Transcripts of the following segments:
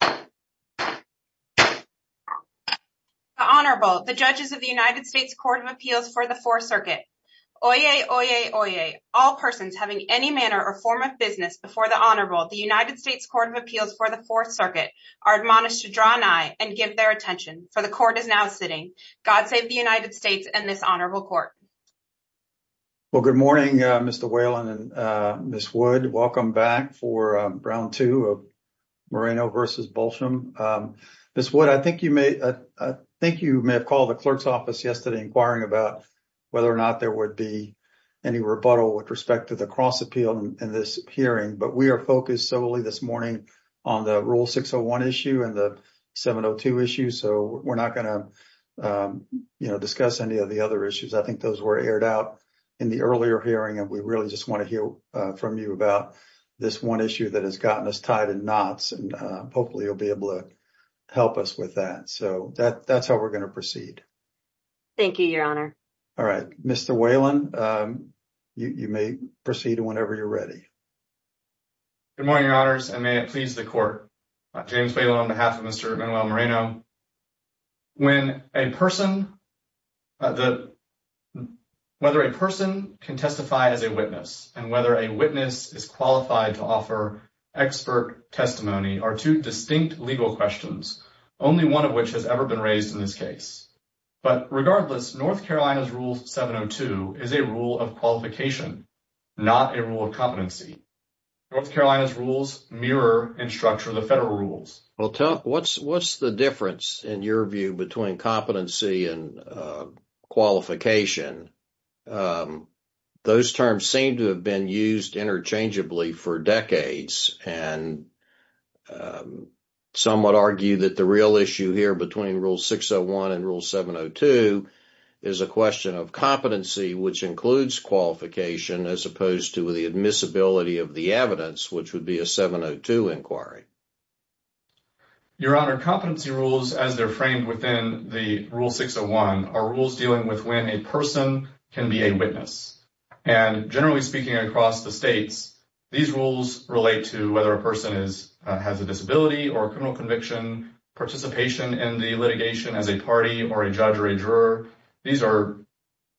The Honorable, the Judges of the United States Court of Appeals for the Fourth Circuit. Oyez, oyez, oyez, all persons having any manner or form of business before the Honorable, the United States Court of Appeals for the Fourth Circuit, are admonished to draw nigh and give their attention, for the Court is now sitting. God save the United States and this Honorable Court. Well, good morning, Mr. Whalen and Ms. Wood. Welcome back for round two of Moreno v. Bosholm. Ms. Wood, I think you may have called the clerk's office yesterday inquiring about whether or not there would be any rebuttal with respect to the cross appeal in this hearing, but we are focused solely this morning on the Rule 601 issue and the 702 issue, so we're not going to discuss any of the other issues. I think those were aired out in the earlier hearing, and we really just want to hear from you about this one issue that has gotten us tied in knots, and hopefully you'll be able to help us with that. So that's how we're going to proceed. Thank you, Your Honor. All right. Mr. Whalen, you may proceed whenever you're ready. Good morning, Your Honors, and may it please the Court. James Whalen on behalf of Mr. Manuel Moreno. Now, whether a person can testify as a witness and whether a witness is qualified to offer expert testimony are two distinct legal questions, only one of which has ever been raised in this case. But regardless, North Carolina's Rule 702 is a rule of qualification, not a rule of competency. North Carolina's rules mirror and structure the federal rules. Well, what's the difference, in your view, between competency and qualification? Those terms seem to have been used interchangeably for decades, and some would argue that the real issue here between Rule 601 and Rule 702 is a question of competency, which includes qualification, as opposed to the admissibility of the evidence, which would be a 702 inquiry. Your Honor, competency rules, as they're framed within the Rule 601, are rules dealing with when a person can be a witness. And generally speaking across the states, these rules relate to whether a person has a disability or a criminal conviction, participation in the litigation as a party or a judge or a juror. These are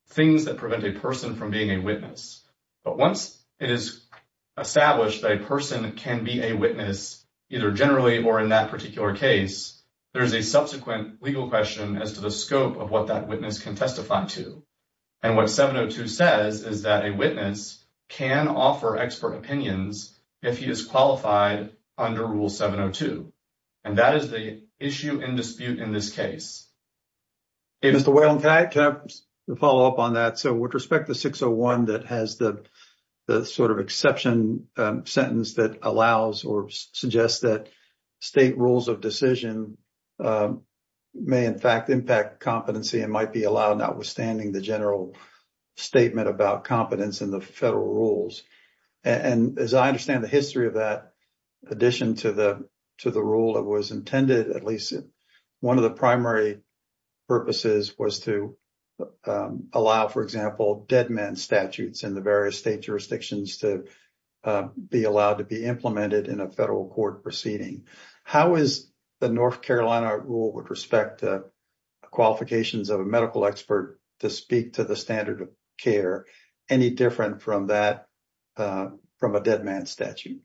things that prevent a person from being a witness. But once it is established that a person can be a witness, either generally or in that particular case, there is a subsequent legal question as to the scope of what that witness can testify to. And what 702 says is that a witness can offer expert opinions if he is qualified under Rule 702. And that is the issue in dispute in this case. Hey, Mr. Whalen, can I follow up on that? So with respect to 601 that has the sort of exception sentence that allows or suggests that state rules of decision may in fact impact competency and might be allowed, notwithstanding the general statement about competence in the federal rules. And as I understand the history of that addition to the rule that was intended, at least one of the primary purposes was to allow, for example, dead man statutes in the various state jurisdictions to be allowed to be implemented in a federal court proceeding. How is the North Carolina rule with respect to qualifications of a medical expert to speak to the standard of care? Any different from that from a dead man statute?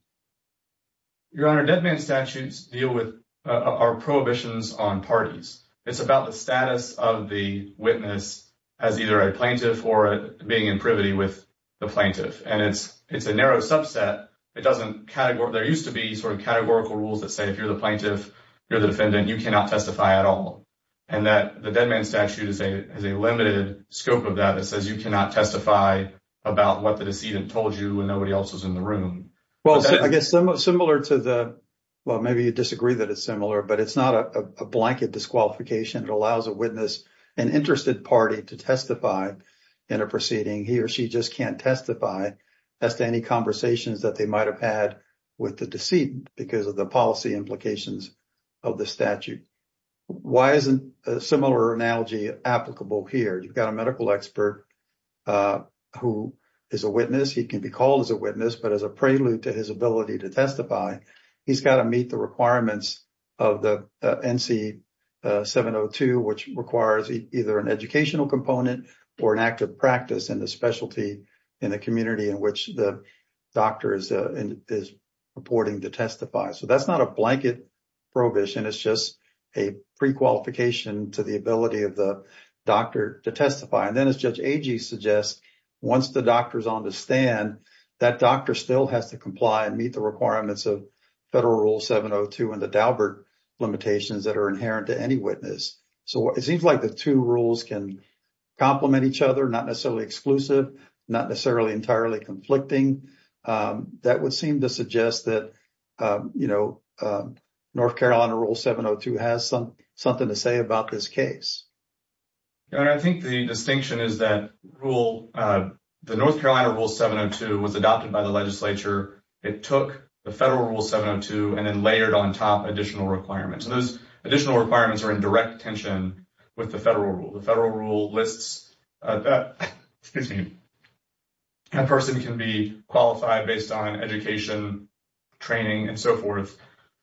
Your Honor, dead man statutes deal with our prohibitions on parties. It's about the status of the witness as either a plaintiff or being in privity with the plaintiff. And it's it's a narrow subset. It doesn't category. There used to be sort of categorical rules that say if you're the plaintiff, you're the defendant. You cannot testify at all. And that the dead man statute is a limited scope of that. It says you cannot testify about what the decedent told you when nobody else was in the room. Well, I guess similar to the well, maybe you disagree that it's similar, but it's not a blanket disqualification. It allows a witness and interested party to testify in a proceeding. He or she just can't testify as to any conversations that they might have had with the decedent because of the policy implications of the statute. Why isn't a similar analogy applicable here? You've got a medical expert who is a witness. He can be called as a witness, but as a prelude to his ability to testify, he's got to meet the requirements of the NC 702, which requires either an educational component or an active practice in the specialty in the community in which the doctor is reporting to testify. So that's not a blanket prohibition. It's just a prequalification to the ability of the doctor to testify. And then, as Judge Agee suggests, once the doctor is on the stand, that doctor still has to comply and meet the requirements of Federal Rule 702 and the Daubert limitations that are inherent to any witness. So it seems like the two rules can complement each other, not necessarily exclusive, not necessarily entirely conflicting. That would seem to suggest that, you know, North Carolina Rule 702 has something to say about this case. I think the distinction is that the North Carolina Rule 702 was adopted by the legislature. It took the Federal Rule 702 and then layered on top additional requirements. Those additional requirements are in direct tension with the Federal Rule. The Federal Rule lists that a person can be qualified based on education, training and so forth.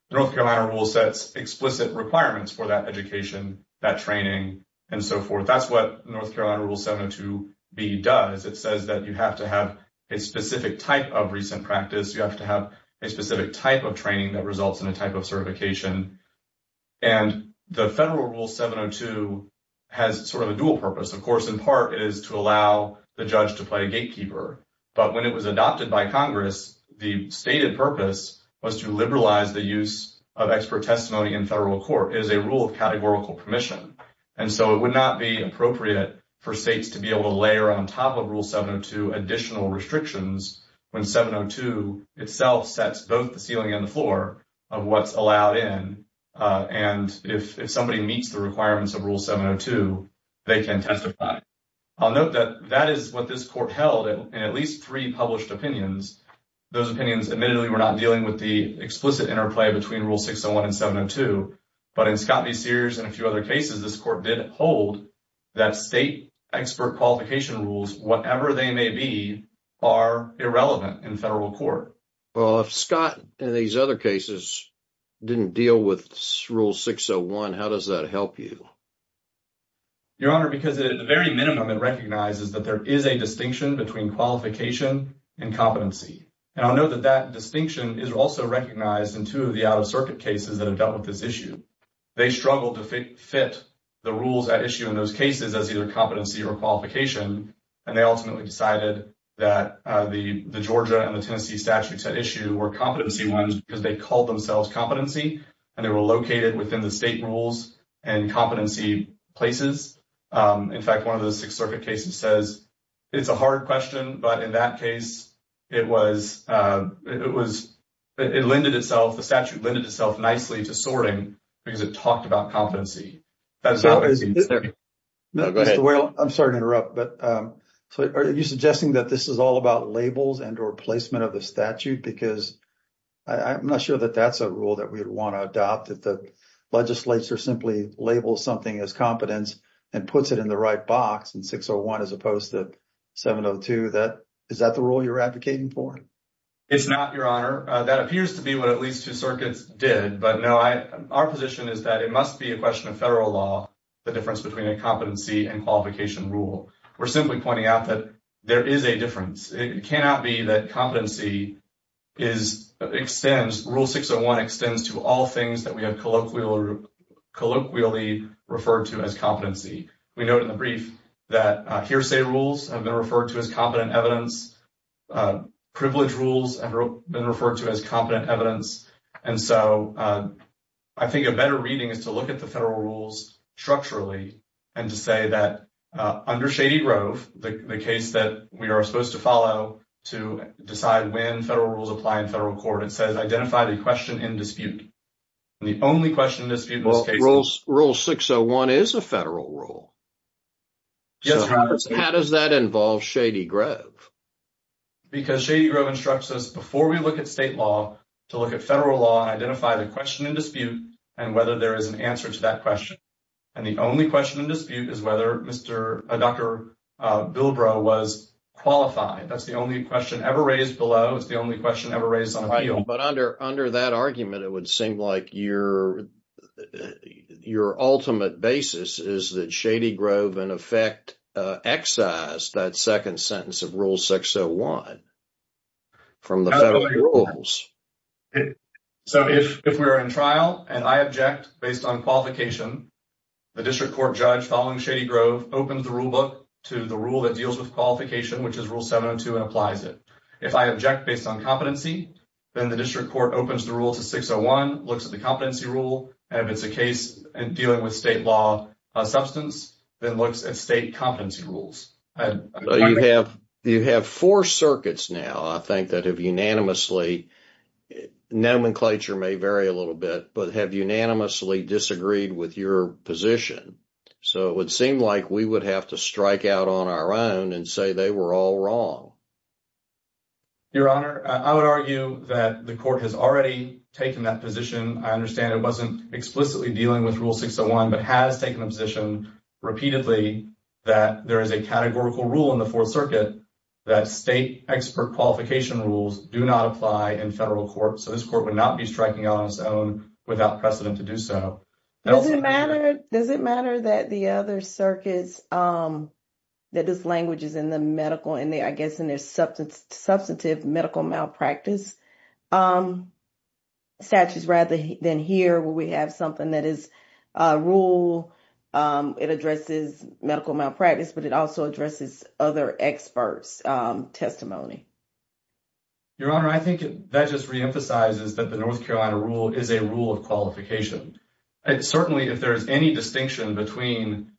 The North Carolina Rule sets explicit requirements for that education, that training and so forth. That's what North Carolina Rule 702B does. It says that you have to have a specific type of recent practice. You have to have a specific type of training that results in a type of certification. And the Federal Rule 702 has sort of a dual purpose. Of course, in part, it is to allow the judge to play a gatekeeper. But when it was adopted by Congress, the stated purpose was to liberalize the use of expert testimony in federal court. It is a rule of categorical permission. And so it would not be appropriate for states to be able to layer on top of Rule 702 additional restrictions when 702 itself sets both the ceiling and the floor of what's allowed in. And if somebody meets the requirements of Rule 702, they can testify. I'll note that that is what this court held in at least three published opinions. Those opinions admittedly were not dealing with the explicit interplay between Rule 601 and 702. But in Scott v. Sears and a few other cases, this court did hold that state expert qualification rules, whatever they may be, are irrelevant in federal court. Well, if Scott and these other cases didn't deal with Rule 601, how does that help you? Your Honor, because at the very minimum, it recognizes that there is a distinction between qualification and competency. And I'll note that that distinction is also recognized in two of the out-of-circuit cases that have dealt with this issue. They struggled to fit the rules at issue in those cases as either competency or qualification. And they ultimately decided that the Georgia and the Tennessee statutes at issue were competency ones because they called themselves competency. And they were located within the state rules and competency places. In fact, one of the Sixth Circuit cases says it's a hard question. But in that case, it was it was it lended itself. The statute lended itself nicely to sorting because it talked about competency. Mr. Whale, I'm sorry to interrupt, but are you suggesting that this is all about labels and or placement of the statute? Because I'm not sure that that's a rule that we would want to adopt if the legislature simply labels something as competence and puts it in the right box? And 601, as opposed to 702, that is that the rule you're advocating for? It's not, Your Honor. That appears to be what at least two circuits did. But no, our position is that it must be a question of federal law, the difference between a competency and qualification rule. We're simply pointing out that there is a difference. It cannot be that competency is extends. Rule 601 extends to all things that we have colloquially referred to as competency. We know in the brief that hearsay rules have been referred to as competent evidence. Privilege rules have been referred to as competent evidence. And so I think a better reading is to look at the federal rules structurally and to say that under Shady Grove, the case that we are supposed to follow to decide when federal rules apply in federal court, it says identify the question in dispute. The only question in dispute in this case. Rule 601 is a federal rule. Yes, Your Honor. How does that involve Shady Grove? Because Shady Grove instructs us before we look at state law to look at federal law and identify the question in dispute and whether there is an answer to that question. And the only question in dispute is whether Dr. Bilbrow was qualified. That's the only question ever raised below. It's the only question ever raised on appeal. But under that argument, it would seem like your ultimate basis is that Shady Grove in effect excised that second sentence of Rule 601 from the federal rules. So if we are in trial and I object based on qualification, the district court judge following Shady Grove opens the rule book to the rule that deals with qualification, which is Rule 702 and applies it. If I object based on competency, then the district court opens the rule to 601, looks at the competency rule. And if it's a case dealing with state law substance, then looks at state competency rules. You have four circuits now, I think, that have unanimously, nomenclature may vary a little bit, but have unanimously disagreed with your position. So it would seem like we would have to strike out on our own and say they were all wrong. Your Honor, I would argue that the court has already taken that position. I understand it wasn't explicitly dealing with Rule 601, but has taken a position repeatedly that there is a categorical rule in the Fourth Circuit that state expert qualification rules do not apply in federal court. So this court would not be striking on its own without precedent to do so. Does it matter that the other circuits, that this language is in the medical and I guess in their substantive medical malpractice statutes rather than here where we have something that is a rule. It addresses medical malpractice, but it also addresses other experts' testimony. Your Honor, I think that just reemphasizes that the North Carolina rule is a rule of qualification. Certainly, if there is any distinction between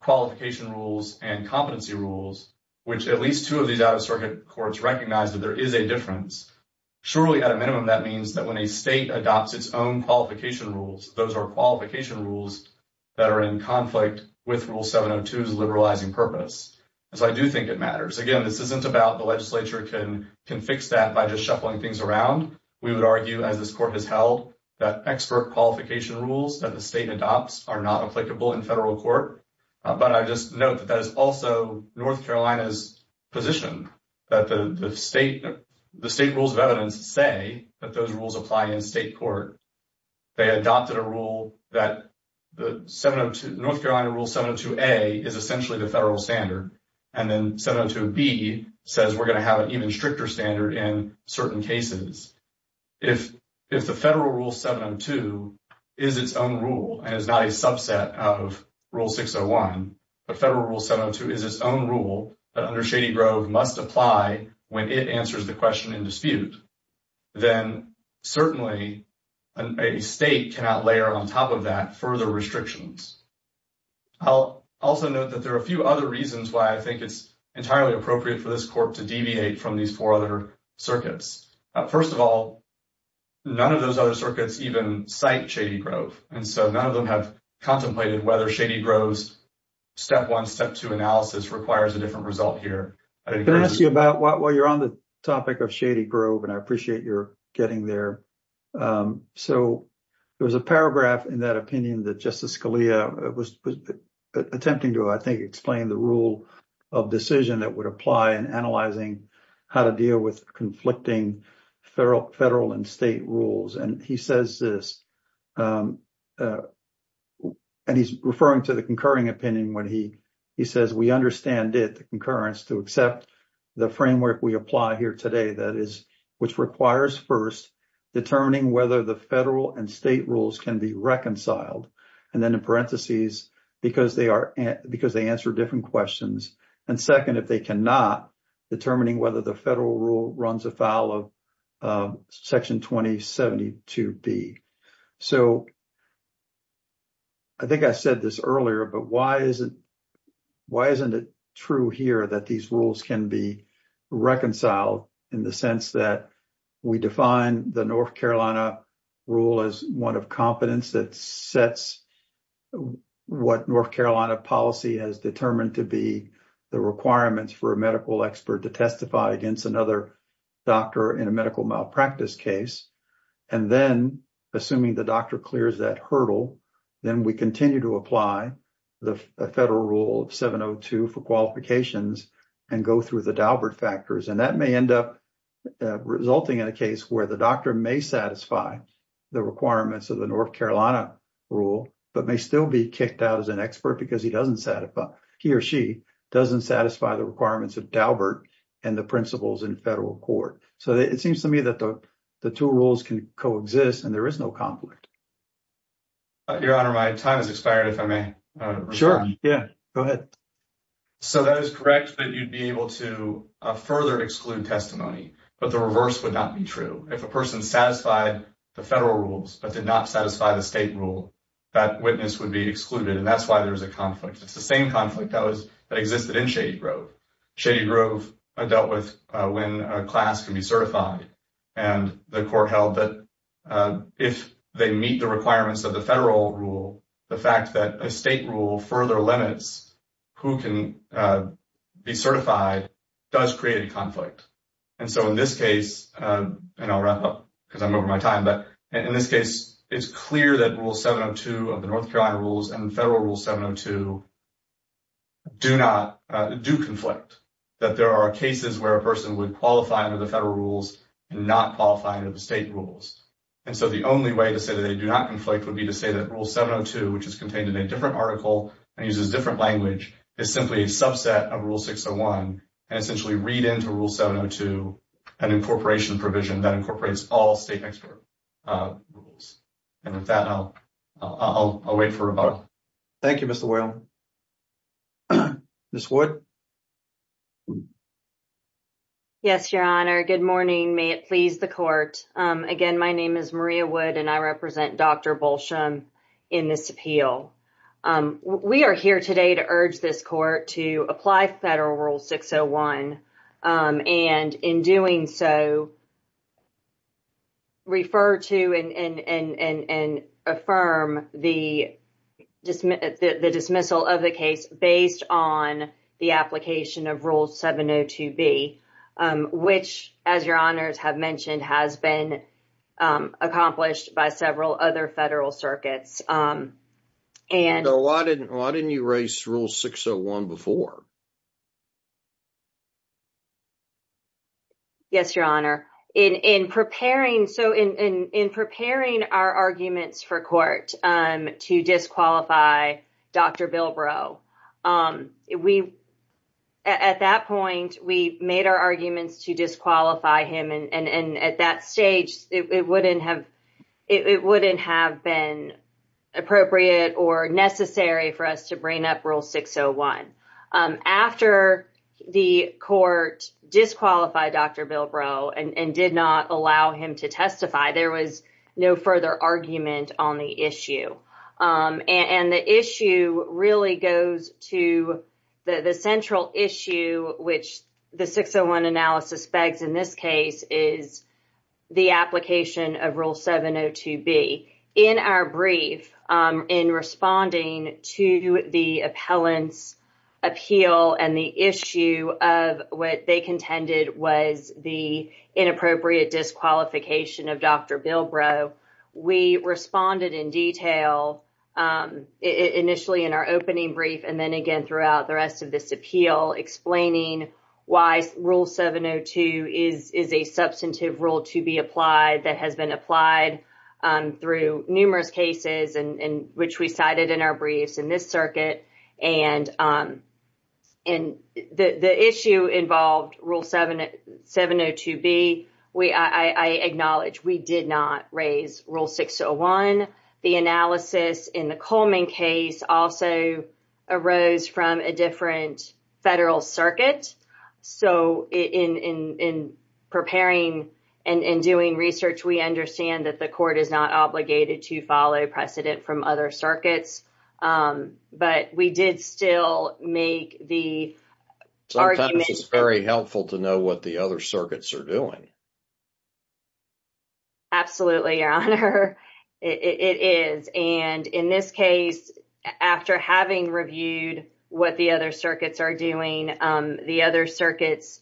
qualification rules and competency rules, which at least two of these out-of-circuit courts recognize that there is a difference. Surely, at a minimum, that means that when a state adopts its own qualification rules, those are qualification rules that are in conflict with Rule 702's liberalizing purpose. So I do think it matters. Again, this isn't about the legislature can fix that by just shuffling things around. We would argue, as this court has held, that expert qualification rules that the state adopts are not applicable in federal court. But I just note that that is also North Carolina's position, that the state rules of evidence say that those rules apply in state court. They adopted a rule that the North Carolina Rule 702A is essentially the federal standard. And then 702B says we're going to have an even stricter standard in certain cases. If the federal Rule 702 is its own rule and is not a subset of Rule 601, the federal Rule 702 is its own rule that under Shady Grove must apply when it answers the question in dispute. Then certainly a state cannot layer on top of that further restrictions. I'll also note that there are a few other reasons why I think it's entirely appropriate for this court to deviate from these four other circuits. First of all, none of those other circuits even cite Shady Grove. And so none of them have contemplated whether Shady Grove's step one, step two analysis requires a different result here. I'm going to ask you about while you're on the topic of Shady Grove, and I appreciate your getting there. So there was a paragraph in that opinion that Justice Scalia was attempting to, I think, explain the rule of decision that would apply in analyzing how to deal with conflicting federal and state rules. And he says this, and he's referring to the concurring opinion when he says we understand it, the concurrence, to accept the framework we apply here today. That is, which requires first determining whether the federal and state rules can be reconciled. And then in parentheses, because they answer different questions. And second, if they cannot, determining whether the federal rule runs afoul of Section 2072B. So I think I said this earlier, but why isn't it true here that these rules can be reconciled in the sense that we define the North Carolina rule as one of competence that sets what North Carolina policy has determined to be the requirements for a medical expert to testify against another doctor in a medical malpractice case? And then, assuming the doctor clears that hurdle, then we continue to apply the federal rule of 702 for qualifications and go through the Daubert factors. And that may end up resulting in a case where the doctor may satisfy the requirements of the North Carolina rule, but may still be kicked out as an expert because he doesn't satisfy, he or she doesn't satisfy the requirements of Daubert and the principles in federal court. So it seems to me that the two rules can coexist and there is no conflict. Your Honor, my time has expired, if I may. Sure. Yeah, go ahead. So that is correct that you'd be able to further exclude testimony, but the reverse would not be true. If a person satisfied the federal rules, but did not satisfy the state rule, that witness would be excluded. And that's why there's a conflict. It's the same conflict that existed in Shady Grove. Shady Grove dealt with when a class can be certified. And the court held that if they meet the requirements of the federal rule, the fact that a state rule further limits who can be certified does create a conflict. And so in this case, and I'll wrap up because I'm over my time, but in this case, it's clear that rule 702 of the North Carolina rules and federal rule 702 do not, do conflict. That there are cases where a person would qualify under the federal rules and not qualify under the state rules. And so the only way to say that they do not conflict would be to say that rule 702, which is contained in a different article and uses different language, is simply a subset of rule 601. And essentially read into rule 702 an incorporation provision that incorporates all state expert rules. And with that, I'll wait for a vote. Thank you, Mr. Whalen. Ms. Wood. Yes, Your Honor. Good morning. May it please the court. Again, my name is Maria Wood and I represent Dr. Balsham in this appeal. We are here today to urge this court to apply federal rule 601. And in doing so, refer to and affirm the dismissal of the case based on the application of rule 702B, which, as Your Honors have mentioned, has been accomplished by several other federal circuits. Why didn't you raise rule 601 before? Yes, Your Honor. In preparing our arguments for court to disqualify Dr. Bilbrow, we at that point, we made our arguments to disqualify him. And at that stage, it wouldn't have it wouldn't have been appropriate or necessary for us to bring up rule 601. After the court disqualified Dr. Bilbrow and did not allow him to testify, there was no further argument on the issue. And the issue really goes to the central issue, which the 601 analysis begs in this case is the application of rule 702B. In our brief, in responding to the appellant's appeal and the issue of what they contended was the inappropriate disqualification of Dr. Bilbrow, we responded in detail initially in our opening brief and then again throughout the rest of this appeal, explaining why rule 702 is a substantive rule to be applied that has been applied through numerous cases and which we cited in our briefs in this circuit. And the issue involved rule 702B. I acknowledge we did not raise rule 601. The analysis in the Coleman case also arose from a different federal circuit. So in preparing and doing research, we understand that the court is not obligated to follow precedent from other circuits. But we did still make the argument. Sometimes it's very helpful to know what the other circuits are doing. Absolutely, Your Honor. It is. And in this case, after having reviewed what the other circuits are doing, the other circuits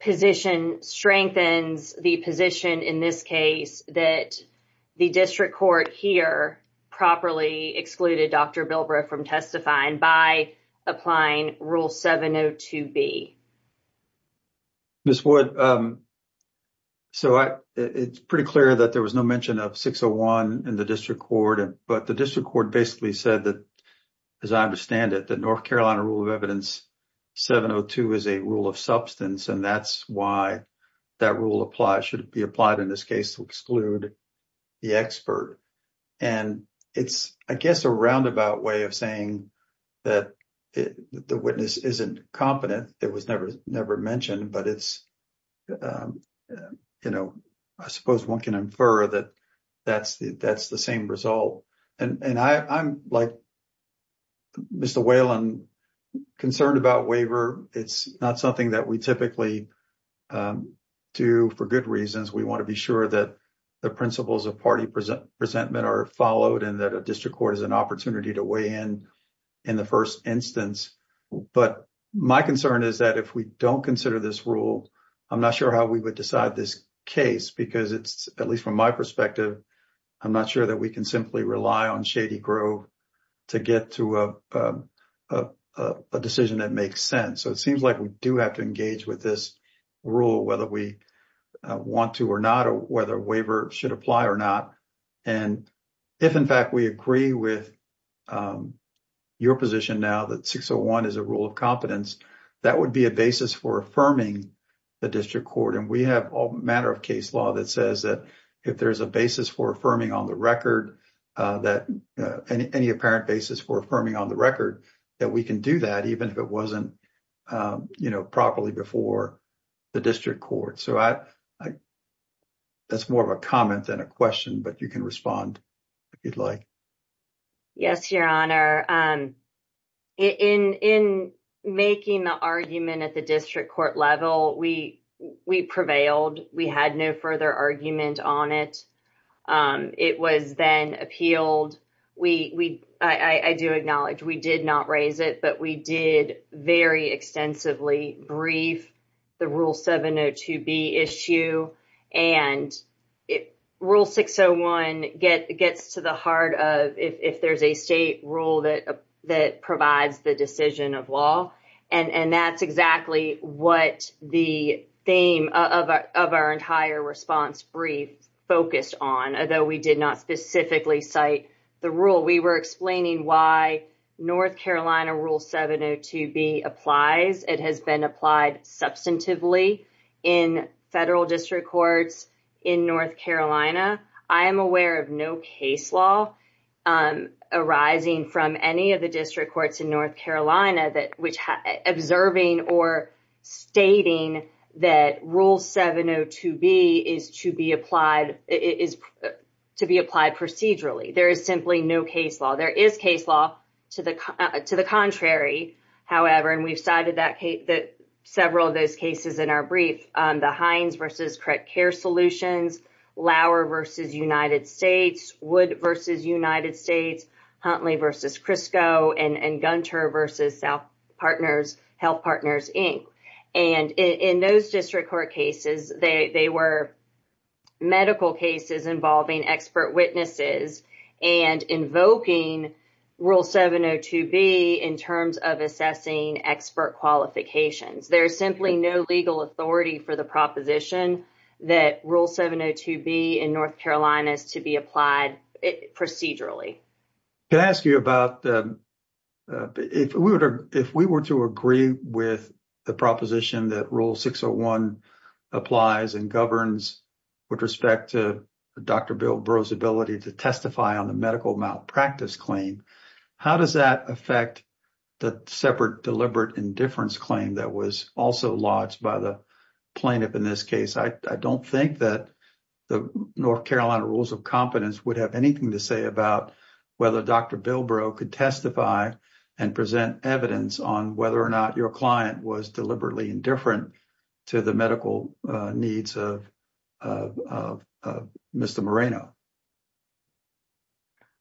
position strengthens the position in this case that the district court here properly excluded Dr. Bilbrow from testifying by applying rule 702B. Ms. Wood, so it's pretty clear that there was no mention of 601 in the district court. But the district court basically said that, as I understand it, the North Carolina rule of evidence 702 is a rule of substance. And that's why that rule applies should be applied in this case to exclude the expert. And it's, I guess, a roundabout way of saying that the witness isn't competent. It was never mentioned, but it's, you know, I suppose one can infer that that's the same result. And I'm like Mr. Whalen, concerned about waiver. It's not something that we typically do for good reasons. We want to be sure that the principles of party presentment are followed and that a district court is an opportunity to weigh in in the first instance. But my concern is that if we don't consider this rule, I'm not sure how we would decide this case, because it's at least from my perspective, I'm not sure that we can simply rely on Shady Grove to get to a decision that makes sense. So it seems like we do have to engage with this rule, whether we want to or not, or whether waiver should apply or not. And if, in fact, we agree with your position now that 601 is a rule of competence, that would be a basis for affirming the district court. And we have a matter of case law that says that if there's a basis for affirming on the record that any apparent basis for affirming on the record that we can do that, even if it wasn't properly before the district court. So that's more of a comment than a question, but you can respond if you'd like. Yes, Your Honor. In making the argument at the district court level, we prevailed. We had no further argument on it. It was then appealed. I do acknowledge we did not raise it, but we did very extensively brief the Rule 702B issue. And Rule 601 gets to the heart of if there's a state rule that provides the decision of law. And that's exactly what the theme of our entire response brief focused on, although we did not specifically cite the rule. We were explaining why North Carolina Rule 702B applies. It has been applied substantively in federal district courts in North Carolina. I am aware of no case law arising from any of the district courts in North Carolina observing or stating that Rule 702B is to be applied procedurally. There is simply no case law. There is case law to the contrary, however, and we've cited several of those cases in our brief. The Hines v. Correct Care Solutions, Lauer v. United States, Wood v. United States, Huntley v. Crisco, and Gunter v. Health Partners, Inc. And in those district court cases, they were medical cases involving expert witnesses and invoking Rule 702B in terms of assessing expert qualifications. There is simply no legal authority for the proposition that Rule 702B in North Carolina is to be applied procedurally. Can I ask you about if we were to agree with the proposition that Rule 601 applies and governs with respect to Dr. Bill Burroughs' ability to testify on the medical malpractice claim, how does that affect the separate deliberate indifference claim that was also lodged by the plaintiff in this case? I don't think that the North Carolina Rules of Competence would have anything to say about whether Dr. Bill Burroughs could testify and present evidence on whether or not your client was deliberately indifferent to the medical needs of Mr. Moreno.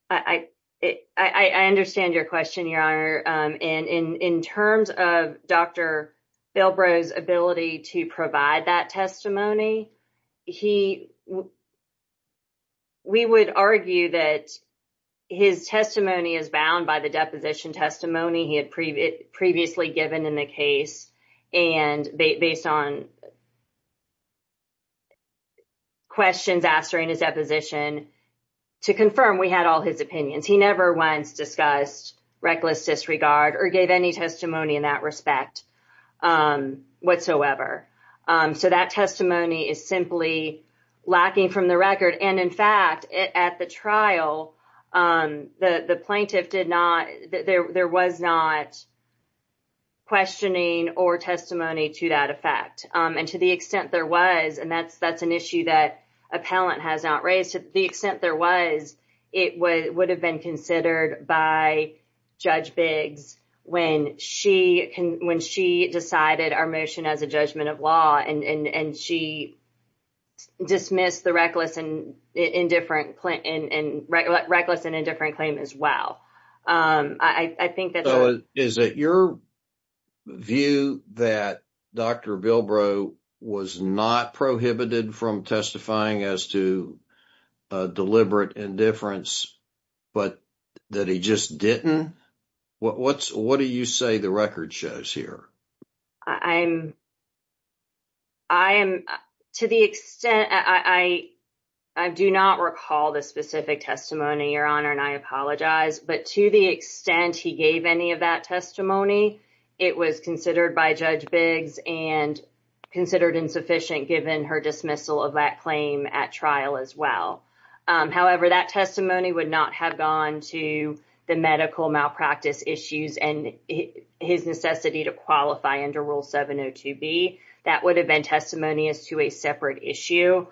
I understand your question, Your Honor. And in terms of Dr. Bill Burroughs' ability to provide that testimony, we would argue that his testimony is bound by the deposition testimony he had previously given in the case. And based on questions asked during his deposition, to confirm, we had all his opinions. He never once discussed reckless disregard or gave any testimony in that respect whatsoever. So that testimony is simply lacking from the record. And in fact, at the trial, the plaintiff did not, there was not questioning or testimony to that effect. And to the extent there was, and that's an issue that appellant has not raised, to the extent there was, it would have been considered by Judge Biggs when she decided our motion as a judgment of law. And she dismissed the reckless and indifferent claim as well. Is it your view that Dr. Bill Burroughs was not prohibited from testifying as to deliberate indifference, but that he just didn't? What do you say the record shows here? I do not recall the specific testimony, Your Honor, and I apologize. But to the extent he gave any of that testimony, it was considered by Judge Biggs and considered insufficient given her dismissal of that claim at trial as well. However, that testimony would not have gone to the medical malpractice issues and his necessity to qualify under Rule 702B. That would have been testimony as to a separate issue.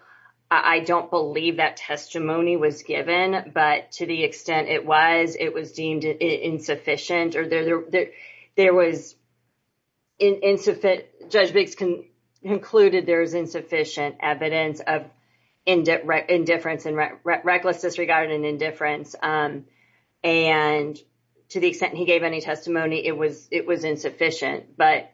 I don't believe that testimony was given, but to the extent it was, it was deemed insufficient or there was, Judge Biggs concluded there was insufficient evidence of indifference and reckless disregard and indifference. And to the extent he gave any testimony, it was it was insufficient. But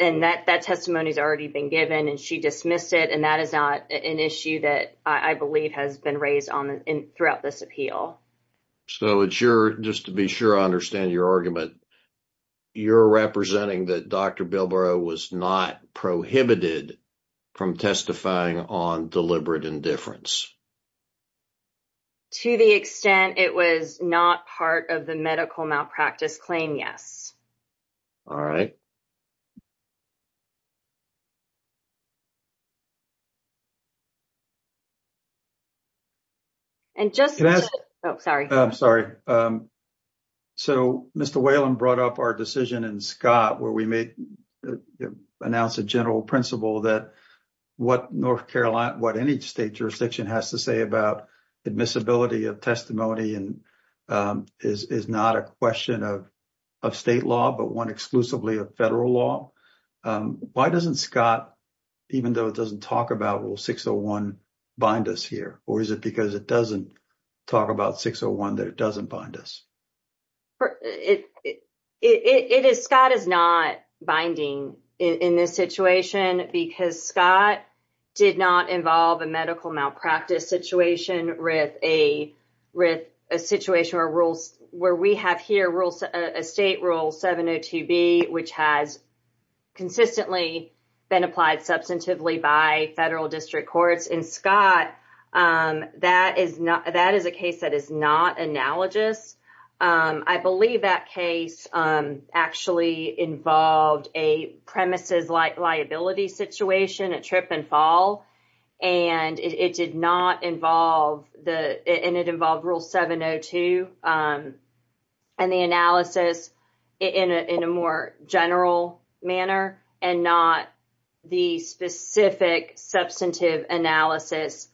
and that that testimony has already been given and she dismissed it. And that is not an issue that I believe has been raised on throughout this appeal. So it's your just to be sure I understand your argument. You're representing that Dr. Bill Burroughs was not prohibited from testifying on deliberate indifference. To the extent it was not part of the medical malpractice claim, yes. All right. And just sorry, I'm sorry. So, Mr. Whalen brought up our decision in Scott, where we may announce a general principle that what North Carolina, what any state jurisdiction has to say about admissibility of testimony and is not a question of of state law, but one exclusively of federal law. Why doesn't Scott, even though it doesn't talk about rule 601 bind us here? Or is it because it doesn't talk about 601 that it doesn't bind us? It is Scott is not binding in this situation because Scott did not involve a medical malpractice situation with a with a situation where rules where we have here rules, a state rule 702 B, which has consistently been applied substantively by federal district courts in Scott. That is not that is a case that is not analogous. I believe that case actually involved a premises like liability situation, a trip and fall, and it did not involve the, and it involved rule 702. And the analysis in a more general manner and not the specific substantive analysis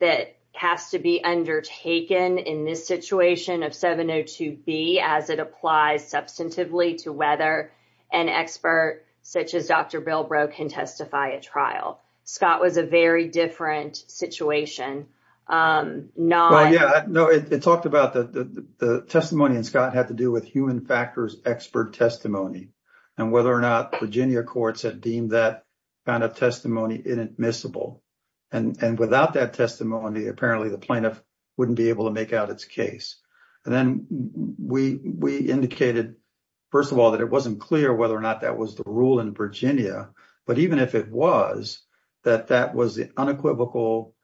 that has to be undertaken in this situation of 702 B as it applies substantively to whether an expert, such as Dr. Bilbrow can testify at trial. Scott was a very different situation. Yeah, no, it talked about the testimony and Scott had to do with human factors, expert testimony, and whether or not Virginia courts had deemed that kind of testimony inadmissible. And without that testimony, apparently, the plaintiff wouldn't be able to make out its case. And then we indicated, first of all, that it wasn't clear whether or not that was the rule in Virginia. But even if it was, that that was the unequivocal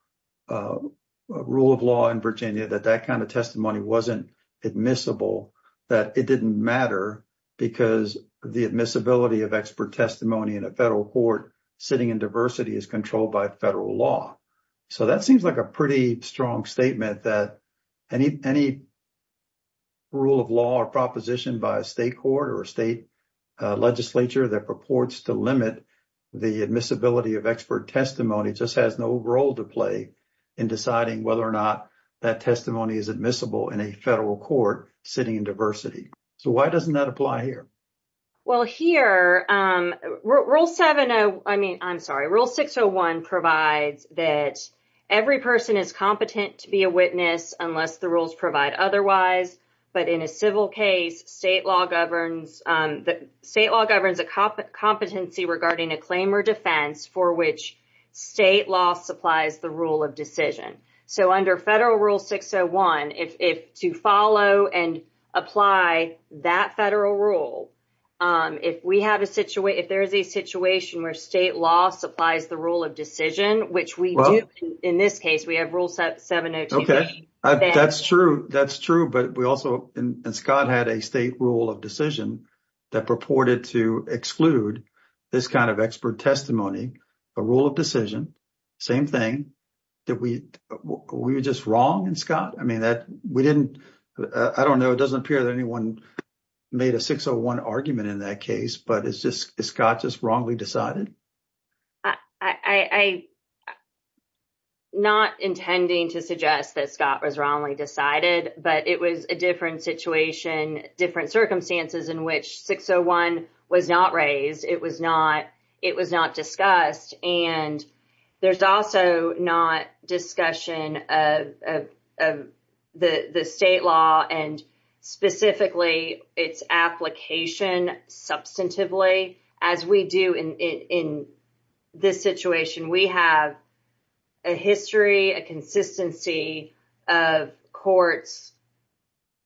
rule of law in Virginia, that that kind of testimony wasn't admissible, that it didn't matter because the admissibility of expert testimony in a federal court sitting in diversity is controlled by federal law. So that seems like a pretty strong statement that any rule of law or proposition by a state court or state legislature that purports to limit the admissibility of expert testimony just has no role to play in deciding whether or not that testimony is admissible in a federal court sitting in diversity. So why doesn't that apply here? Well, here, Rule 601 provides that every person is competent to be a witness unless the rules provide otherwise. But in a civil case, state law governs a competency regarding a claim or defense for which state law supplies the rule of decision. So under federal Rule 601, if to follow and apply that federal rule, if we have a situation, if there is a situation where state law supplies the rule of decision, which we do in this case, we have Rule 702. Okay. That's true. That's true. But we also, and Scott had a state rule of decision that purported to exclude this kind of expert testimony, a rule of decision, same thing. Did we, were we just wrong in Scott? I mean, that we didn't, I don't know, it doesn't appear that anyone made a 601 argument in that case, but it's just, is Scott just wrongly decided? I, not intending to suggest that Scott was wrongly decided, but it was a different situation, different circumstances in which 601 was not raised. It was not, it was not discussed. And there's also not discussion of the state law and specifically its application substantively as we do in this situation. We have a history, a consistency of courts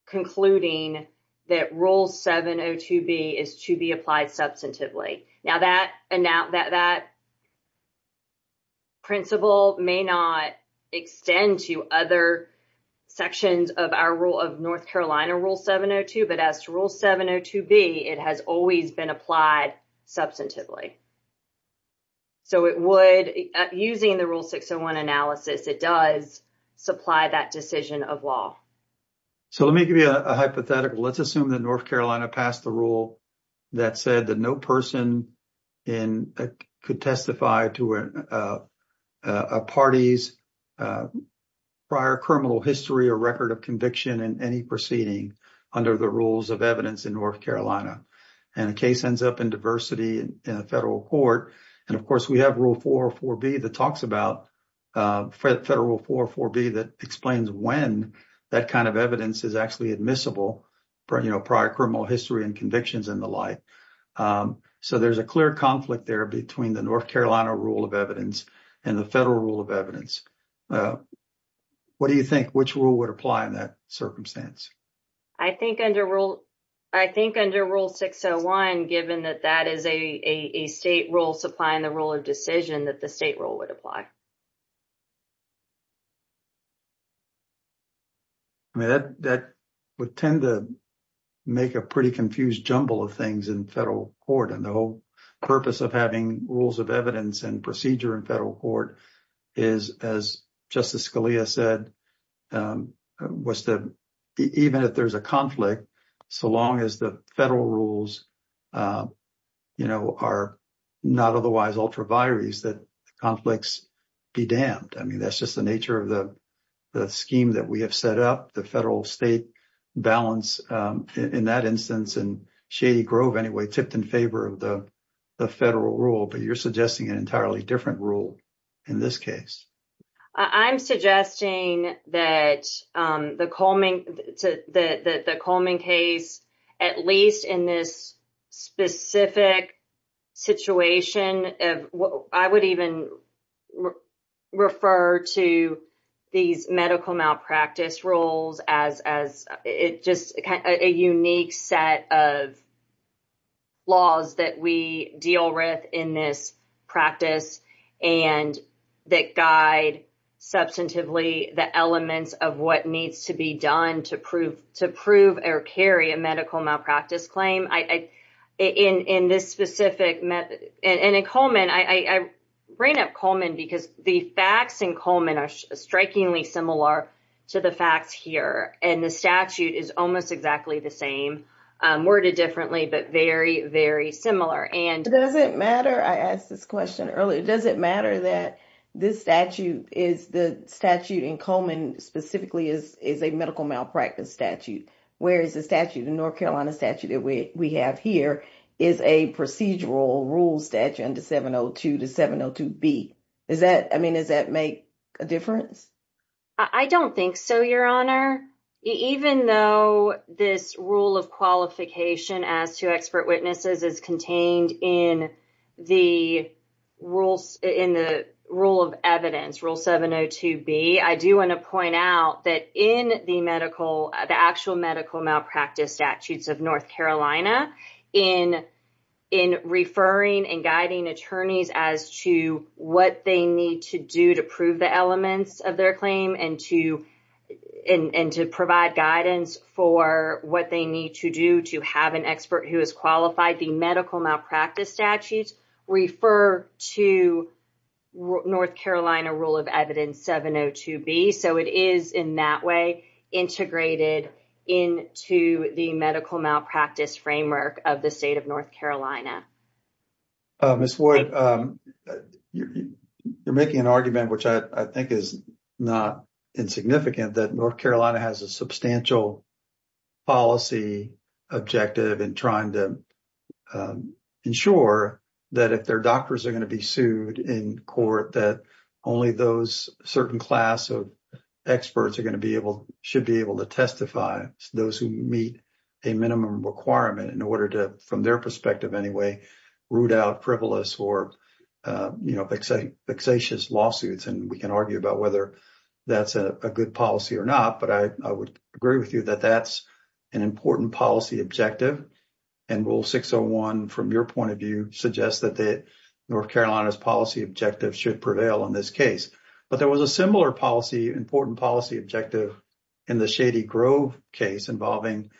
concluding that Rule 702B is to be applied substantively. Now, that principle may not extend to other sections of our rule of North Carolina Rule 702, but as to Rule 702B, it has always been applied substantively. So, it would, using the Rule 601 analysis, it does supply that decision of law. So, let me give you a hypothetical. Let's assume that North Carolina passed the rule that said that no person in, could testify to a party's prior criminal history or record of conviction in any proceeding under the rules of evidence in North Carolina. And a case ends up in diversity in a federal court. And of course, we have Rule 404B that talks about, Federal Rule 404B that explains when that kind of evidence is actually admissible for, you know, prior criminal history and convictions and the like. So, there's a clear conflict there between the North Carolina rule of evidence and the federal rule of evidence. What do you think, which rule would apply in that circumstance? I think under Rule 601, given that that is a state rule supplying the rule of decision, that the state rule would apply. I mean, that would tend to make a pretty confused jumble of things in federal court. And the whole purpose of having rules of evidence and procedure in federal court is, as Justice Scalia said, was to, even if there's a conflict, so long as the federal rules, you know, are not otherwise ultra vires, that conflicts, be damned. I mean, that's just the nature of the scheme that we have set up. The federal state balance in that instance, and Shady Grove, anyway, tipped in favor of the federal rule. But you're suggesting an entirely different rule in this case. I'm suggesting that the Coleman case, at least in this specific situation, I would even refer to these medical malpractice rules as just a unique set of laws that we deal with in this practice. And that guide substantively the elements of what needs to be done to prove or carry a medical malpractice claim in this specific method. And in Coleman, I bring up Coleman because the facts in Coleman are strikingly similar to the facts here. And the statute is almost exactly the same, worded differently, but very, very similar. Does it matter, I asked this question earlier, does it matter that this statute is, the statute in Coleman specifically is a medical malpractice statute, whereas the statute in North Carolina statute that we have here is a procedural rule statute under 702 to 702B. Is that, I mean, does that make a difference? I don't think so, Your Honor. Even though this rule of qualification as to expert witnesses is contained in the rules, in the rule of evidence, rule 702B, I do want to point out that in the medical, the actual medical malpractice statutes of North Carolina, in referring and guiding attorneys as to what they need to do to prove the elements of their medical malpractice claim, and to provide guidance for what they need to do to have an expert who is qualified, the medical malpractice statutes refer to North Carolina rule of evidence 702B. So it is in that way integrated into the medical malpractice framework of the state of North Carolina. Ms. Wood, you're making an argument, which I think is not insignificant, that North Carolina has a substantial policy objective in trying to ensure that if their doctors are going to be sued in court, that only those certain class of experts are going to be able, should be able to testify. Those who meet a minimum requirement in order to, from their perspective anyway, root out frivolous or, you know, vexatious lawsuits. And we can argue about whether that's a good policy or not, but I would agree with you that that's an important policy objective. And rule 601, from your point of view, suggests that North Carolina's policy objective should prevail in this case. But there was a similar policy, important policy objective in the Shady Grove case involving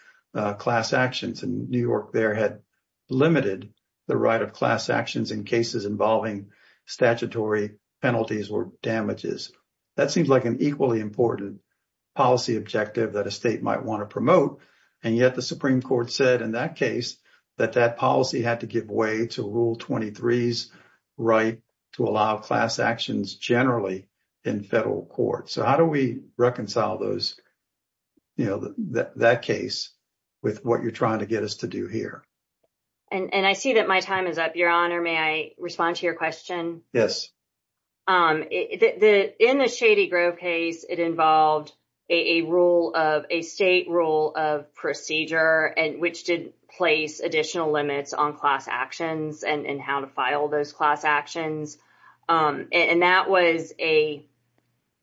class actions, and New York there had limited the right of class actions in cases involving statutory penalties or damages. That seems like an equally important policy objective that a state might want to promote. And yet the Supreme Court said in that case that that policy had to give way to Rule 23's right to allow class actions generally in federal court. So how do we reconcile those, you know, that case with what you're trying to get us to do here? And I see that my time is up, Your Honor. May I respond to your question? In the Shady Grove case, it involved a rule of, a state rule of procedure, which did place additional limits on class actions and how to file those class actions. And that was a...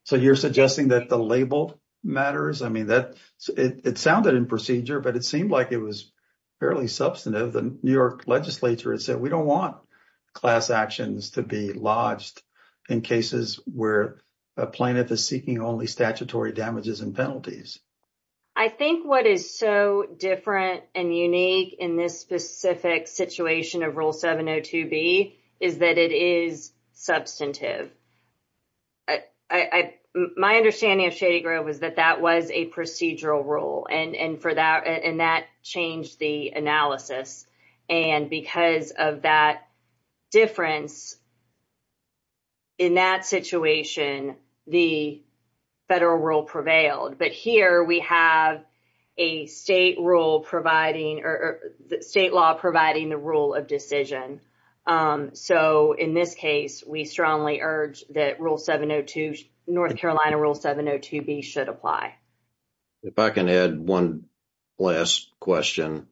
So you're suggesting that the label matters? I mean, it sounded in procedure, but it seemed like it was fairly substantive. The New York legislature said, we don't want class actions to be lodged in cases where a plaintiff is seeking only statutory damages and penalties. I think what is so different and unique in this specific situation of Rule 702B is that it is substantive. My understanding of Shady Grove is that that was a procedural rule, and that changed the analysis. And because of that difference in that situation, the federal rule prevailed. However, we have a state rule providing, or state law providing the rule of decision. So in this case, we strongly urge that Rule 702, North Carolina Rule 702B should apply. If I can add one last question.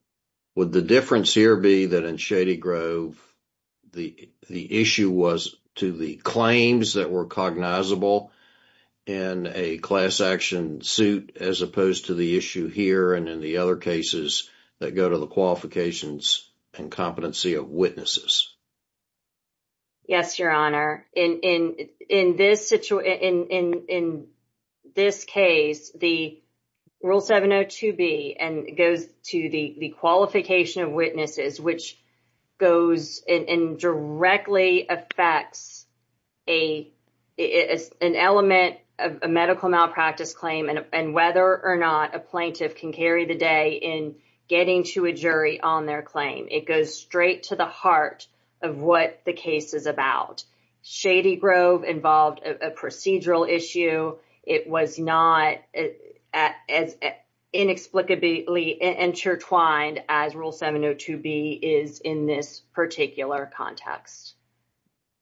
Would the difference here be that in Shady Grove, the issue was to the claims that were cognizable in a class action suit, as opposed to the issue here and in the other cases that go to the qualifications and competency of witnesses? Yes, Your Honor. In this case, the Rule 702B goes to the qualification of witnesses, which goes and directly affects an element of a medical malpractice claim and whether or not a plaintiff can carry the day in getting to a jury on their claim. It goes straight to the heart of what the case is about. Shady Grove involved a procedural issue. It was not as inexplicably intertwined as Rule 702B is in this particular context.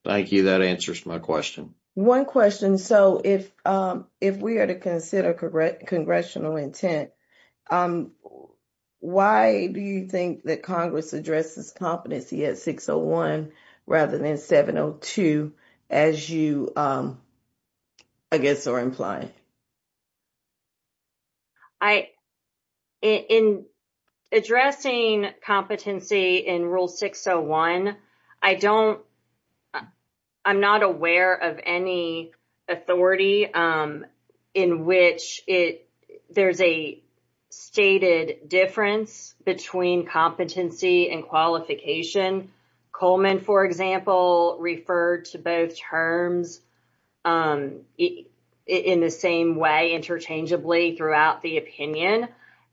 Thank you. That answers my question. One question. So if we are to consider congressional intent, why do you think that Congress addresses competency at 601 rather than 702 as you, I guess, are implying? I, in addressing competency in Rule 601, I don't, I'm not aware of any authority in which it, there's a stated difference between competency and qualification. Coleman, for example, referred to both terms. In the same way, interchangeably throughout the opinion,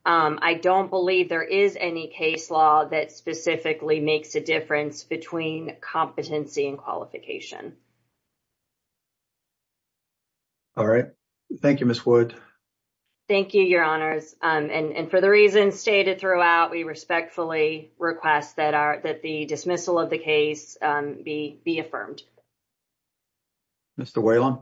I don't believe there is any case law that specifically makes a difference between competency and qualification. All right. Thank you, Miss Wood. Thank you, Your Honors. And for the reasons stated throughout, we respectfully request that the dismissal of the case be affirmed. Mr. Whalen.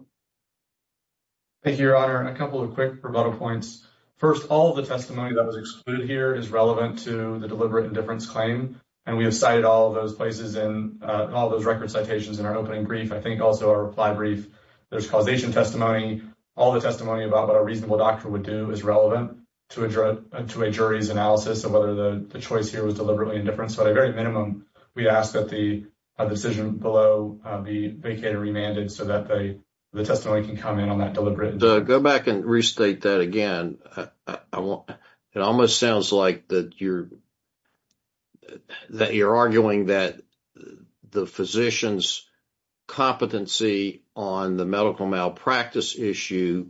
Thank you, Your Honor. A couple of quick rebuttal points. First, all of the testimony that was excluded here is relevant to the deliberate indifference claim. And we have cited all those places in all those record citations in our opening brief. I think also our reply brief. There's causation testimony. All the testimony about what a reasonable doctor would do is relevant to a jury's analysis of whether the choice here was deliberately indifference. By the very minimum, we ask that the decision below be vacated or remanded so that the testimony can comment on that deliberate indifference. Go back and restate that again. It almost sounds like that you're, that you're arguing that the physician's competency on the medical malpractice issue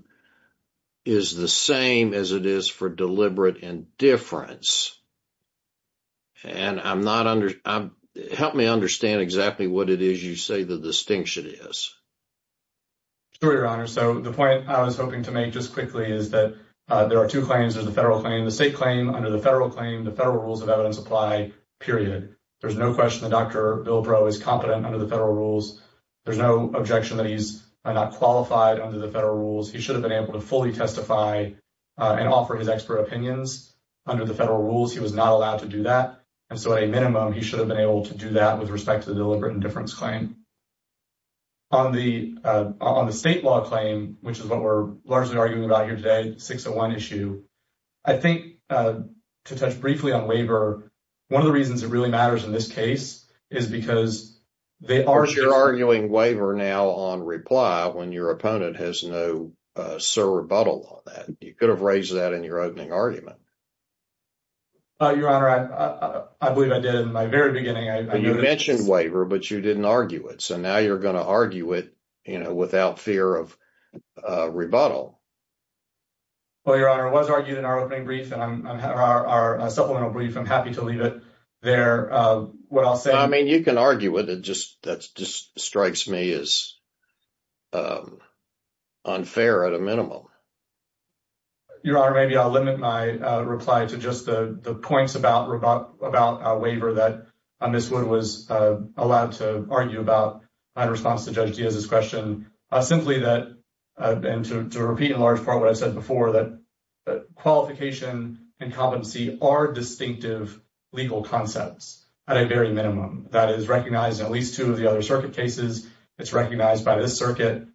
is the same as it is for deliberate indifference. And I'm not, help me understand exactly what it is you say the distinction is. Sure, Your Honor. So the point I was hoping to make just quickly is that there are two claims. There's the federal claim, the state claim. Under the federal claim, the federal rules of evidence apply, period. There's no question that Dr. Bilbrow is competent under the federal rules. There's no objection that he's not qualified under the federal rules. He should have been able to fully testify and offer his expert opinions under the federal rules. He was not allowed to do that. And so at a minimum, he should have been able to do that with respect to the deliberate indifference claim. On the, on the state law claim, which is what we're largely arguing about here today, 601 issue, I think, to touch briefly on waiver, one of the reasons it really matters in this case is because they are Because you're arguing waiver now on reply when your opponent has no sur rebuttal on that. You could have raised that in your opening argument. Your Honor, I believe I did in my very beginning. You mentioned waiver, but you didn't argue it. So now you're going to argue it, you know, without fear of rebuttal. Well, Your Honor, it was argued in our opening brief and our supplemental brief. I'm happy to leave it there. What I'll say I mean, you can argue it. It just strikes me as unfair at a minimum. Your Honor, maybe I'll limit my reply to just the points about waiver that Ms. Wood was allowed to argue about in response to Judge Diaz's question. Simply that, and to repeat in large part what I've said before, that qualification and competency are distinctive legal concepts at a very minimum. That is recognized in at least two of the other circuit cases. It's recognized by this circuit.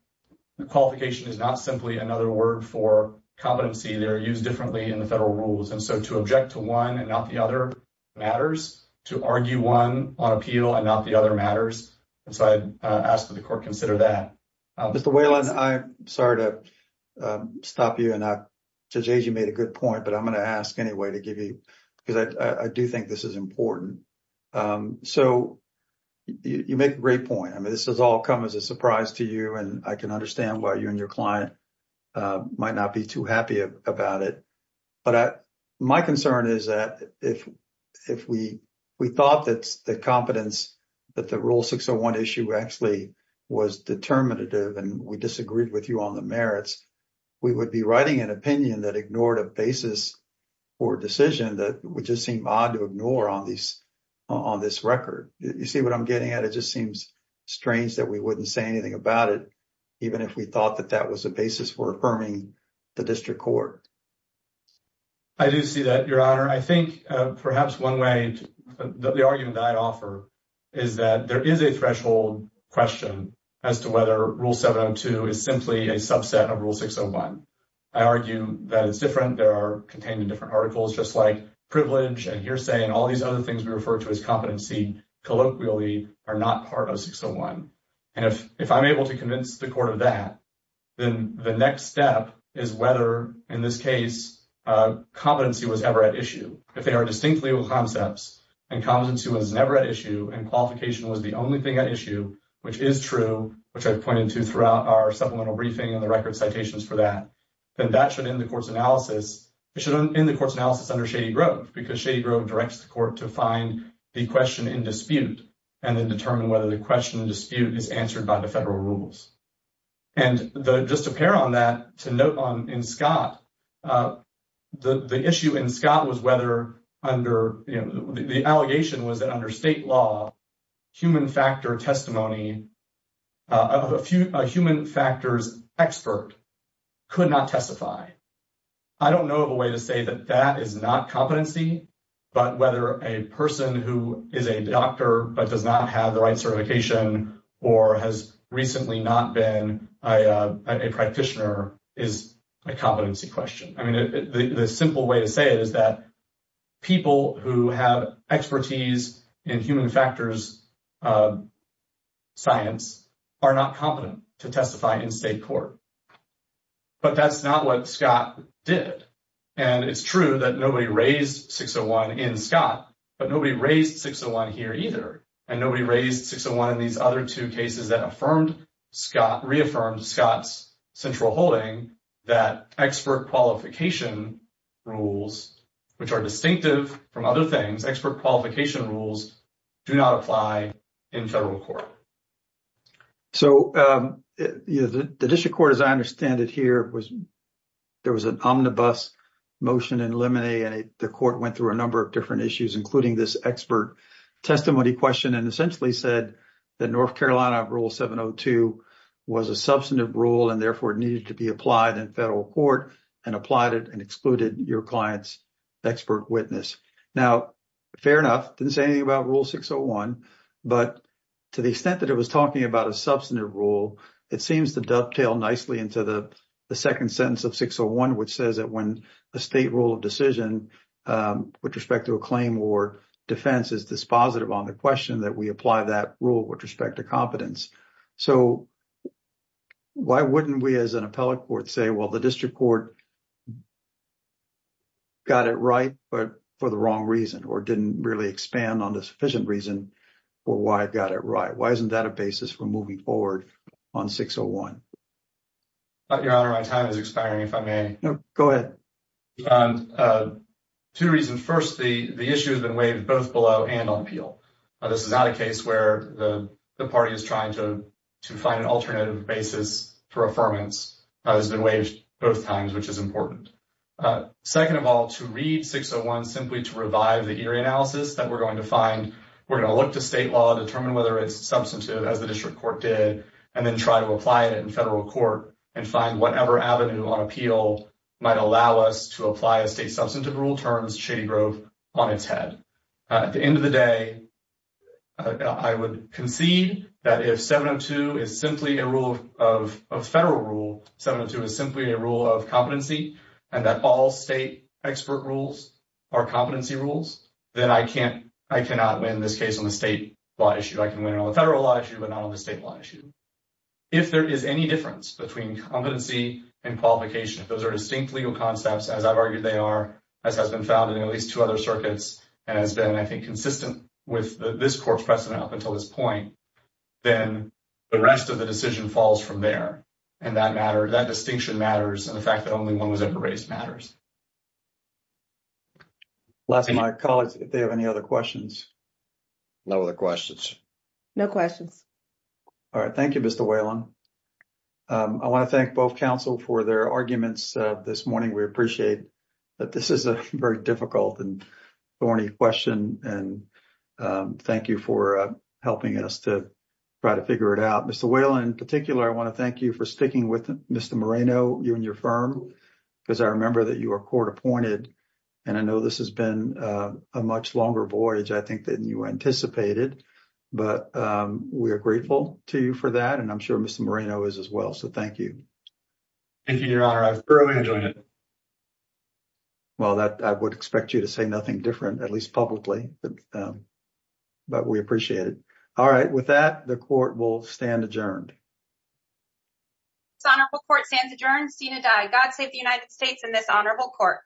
Qualification is not simply another word for competency. They're used differently in the federal rules. And so to object to one and not the other matters, to argue one on appeal and not the other matters. And so I ask that the court consider that. Mr. Whalen, I'm sorry to stop you. And Judge Diaz, you made a good point, but I'm going to ask anyway to give you, because I do think this is important. So you make a great point. I mean, this has all come as a surprise to you. And I can understand why you and your client might not be too happy about it. But my concern is that if we thought that the competence, that the Rule 601 issue actually was determinative and we disagreed with you on the merits, we would be writing an opinion that ignored a basis for a decision that would just seem odd to ignore on this record. You see what I'm getting at? It just seems strange that we wouldn't say anything about it, even if we thought that that was a basis for affirming the district court. I do see that, Your Honor. I think perhaps one way that the argument that I'd offer is that there is a threshold question as to whether Rule 702 is simply a subset of Rule 601. I argue that it's different. There are contained in different articles, just like privilege and hearsay and all these other things we refer to as competency colloquially are not part of 601. And if I'm able to convince the court of that, then the next step is whether, in this case, competency was ever at issue. If they are distinct legal concepts and competency was never at issue and qualification was the only thing at issue, which is true, which I've pointed to throughout our supplemental briefing and the record citations for that, then that should end the court's analysis. It should end the court's analysis under Shady Grove because Shady Grove directs the court to find the question in dispute and then determine whether the question in dispute is answered by the federal rules. And just to pair on that, to note on in Scott, the issue in Scott was whether under, you know, the allegation was that under state law, human factor testimony of a human factors expert could not testify. I don't know of a way to say that that is not competency, but whether a person who is a doctor but does not have the right certification or has recently not been a practitioner is a competency question. I mean, the simple way to say it is that people who have expertise in human factors science are not competent to testify in state court. But that's not what Scott did. And it's true that nobody raised 601 in Scott, but nobody raised 601 here either. And nobody raised 601 in these other two cases that affirmed Scott, reaffirmed Scott's central holding that expert qualification rules, which are distinctive from other things, expert qualification rules do not apply in federal court. So the district court, as I understand it here, was there was an omnibus motion in limine and the court went through a number of different issues, including this expert testimony question and essentially said that North Carolina rule 702 was a substantive rule and therefore needed to be applied in federal court and applied it and excluded your client's expert witness. Now, fair enough, didn't say anything about rule 601, but to the extent that it was talking about a substantive rule, it seems to dovetail nicely into the second sentence of 601, which says that when a state rule of decision with respect to a claim or defense is dispositive on the question that we apply that rule with respect to competence. So why wouldn't we as an appellate court say, well, the district court got it right, but for the wrong reason or didn't really expand on the sufficient reason for why it got it right? Why isn't that a basis for moving forward on 601? Your Honor, my time is expiring, if I may. Go ahead. Two reasons. First, the issue has been waived both below and on appeal. This is not a case where the party is trying to find an alternative basis for affirmance has been waived both times, which is important. Second of all, to read 601 simply to revive the eerie analysis that we're going to find, we're going to look to state law, determine whether it's substantive as the district court did, and then try to apply it in federal court and find whatever avenue on appeal might allow us to apply a state substantive rule terms Shady Grove on its head. At the end of the day, I would concede that if 702 is simply a rule of federal rule, 702 is simply a rule of competency and that all state expert rules are competency rules, then I can't, I cannot win this case on the state law issue. I can win it on the federal law issue, but not on the state law issue. If there is any difference between competency and qualification, those are distinct legal concepts, as I've argued they are, as has been found in at least two other circuits and has been, I think, consistent with this court's precedent up until this point, then the rest of the decision falls from there. And that matter, that distinction matters, and the fact that only one was ever raised matters. Last, my colleagues, if they have any other questions. No other questions. No questions. All right. Thank you, Mr. Whalen. I want to thank both counsel for their arguments this morning. We appreciate that this is a very difficult and thorny question. And thank you for helping us to try to figure it out. Mr. Whalen, in particular, I want to thank you for speaking with Mr. Moreno, you and your firm, because I remember that you were court appointed. And I know this has been a much longer voyage, I think, than you anticipated. But we are grateful to you for that, and I'm sure Mr. Moreno is as well. So thank you. Thank you, Your Honor. I thoroughly enjoyed it. Well, I would expect you to say nothing different, at least publicly. But we appreciate it. All right. With that, the court will stand adjourned. This honorable court stands adjourned. Seen and die. God save the United States and this honorable court.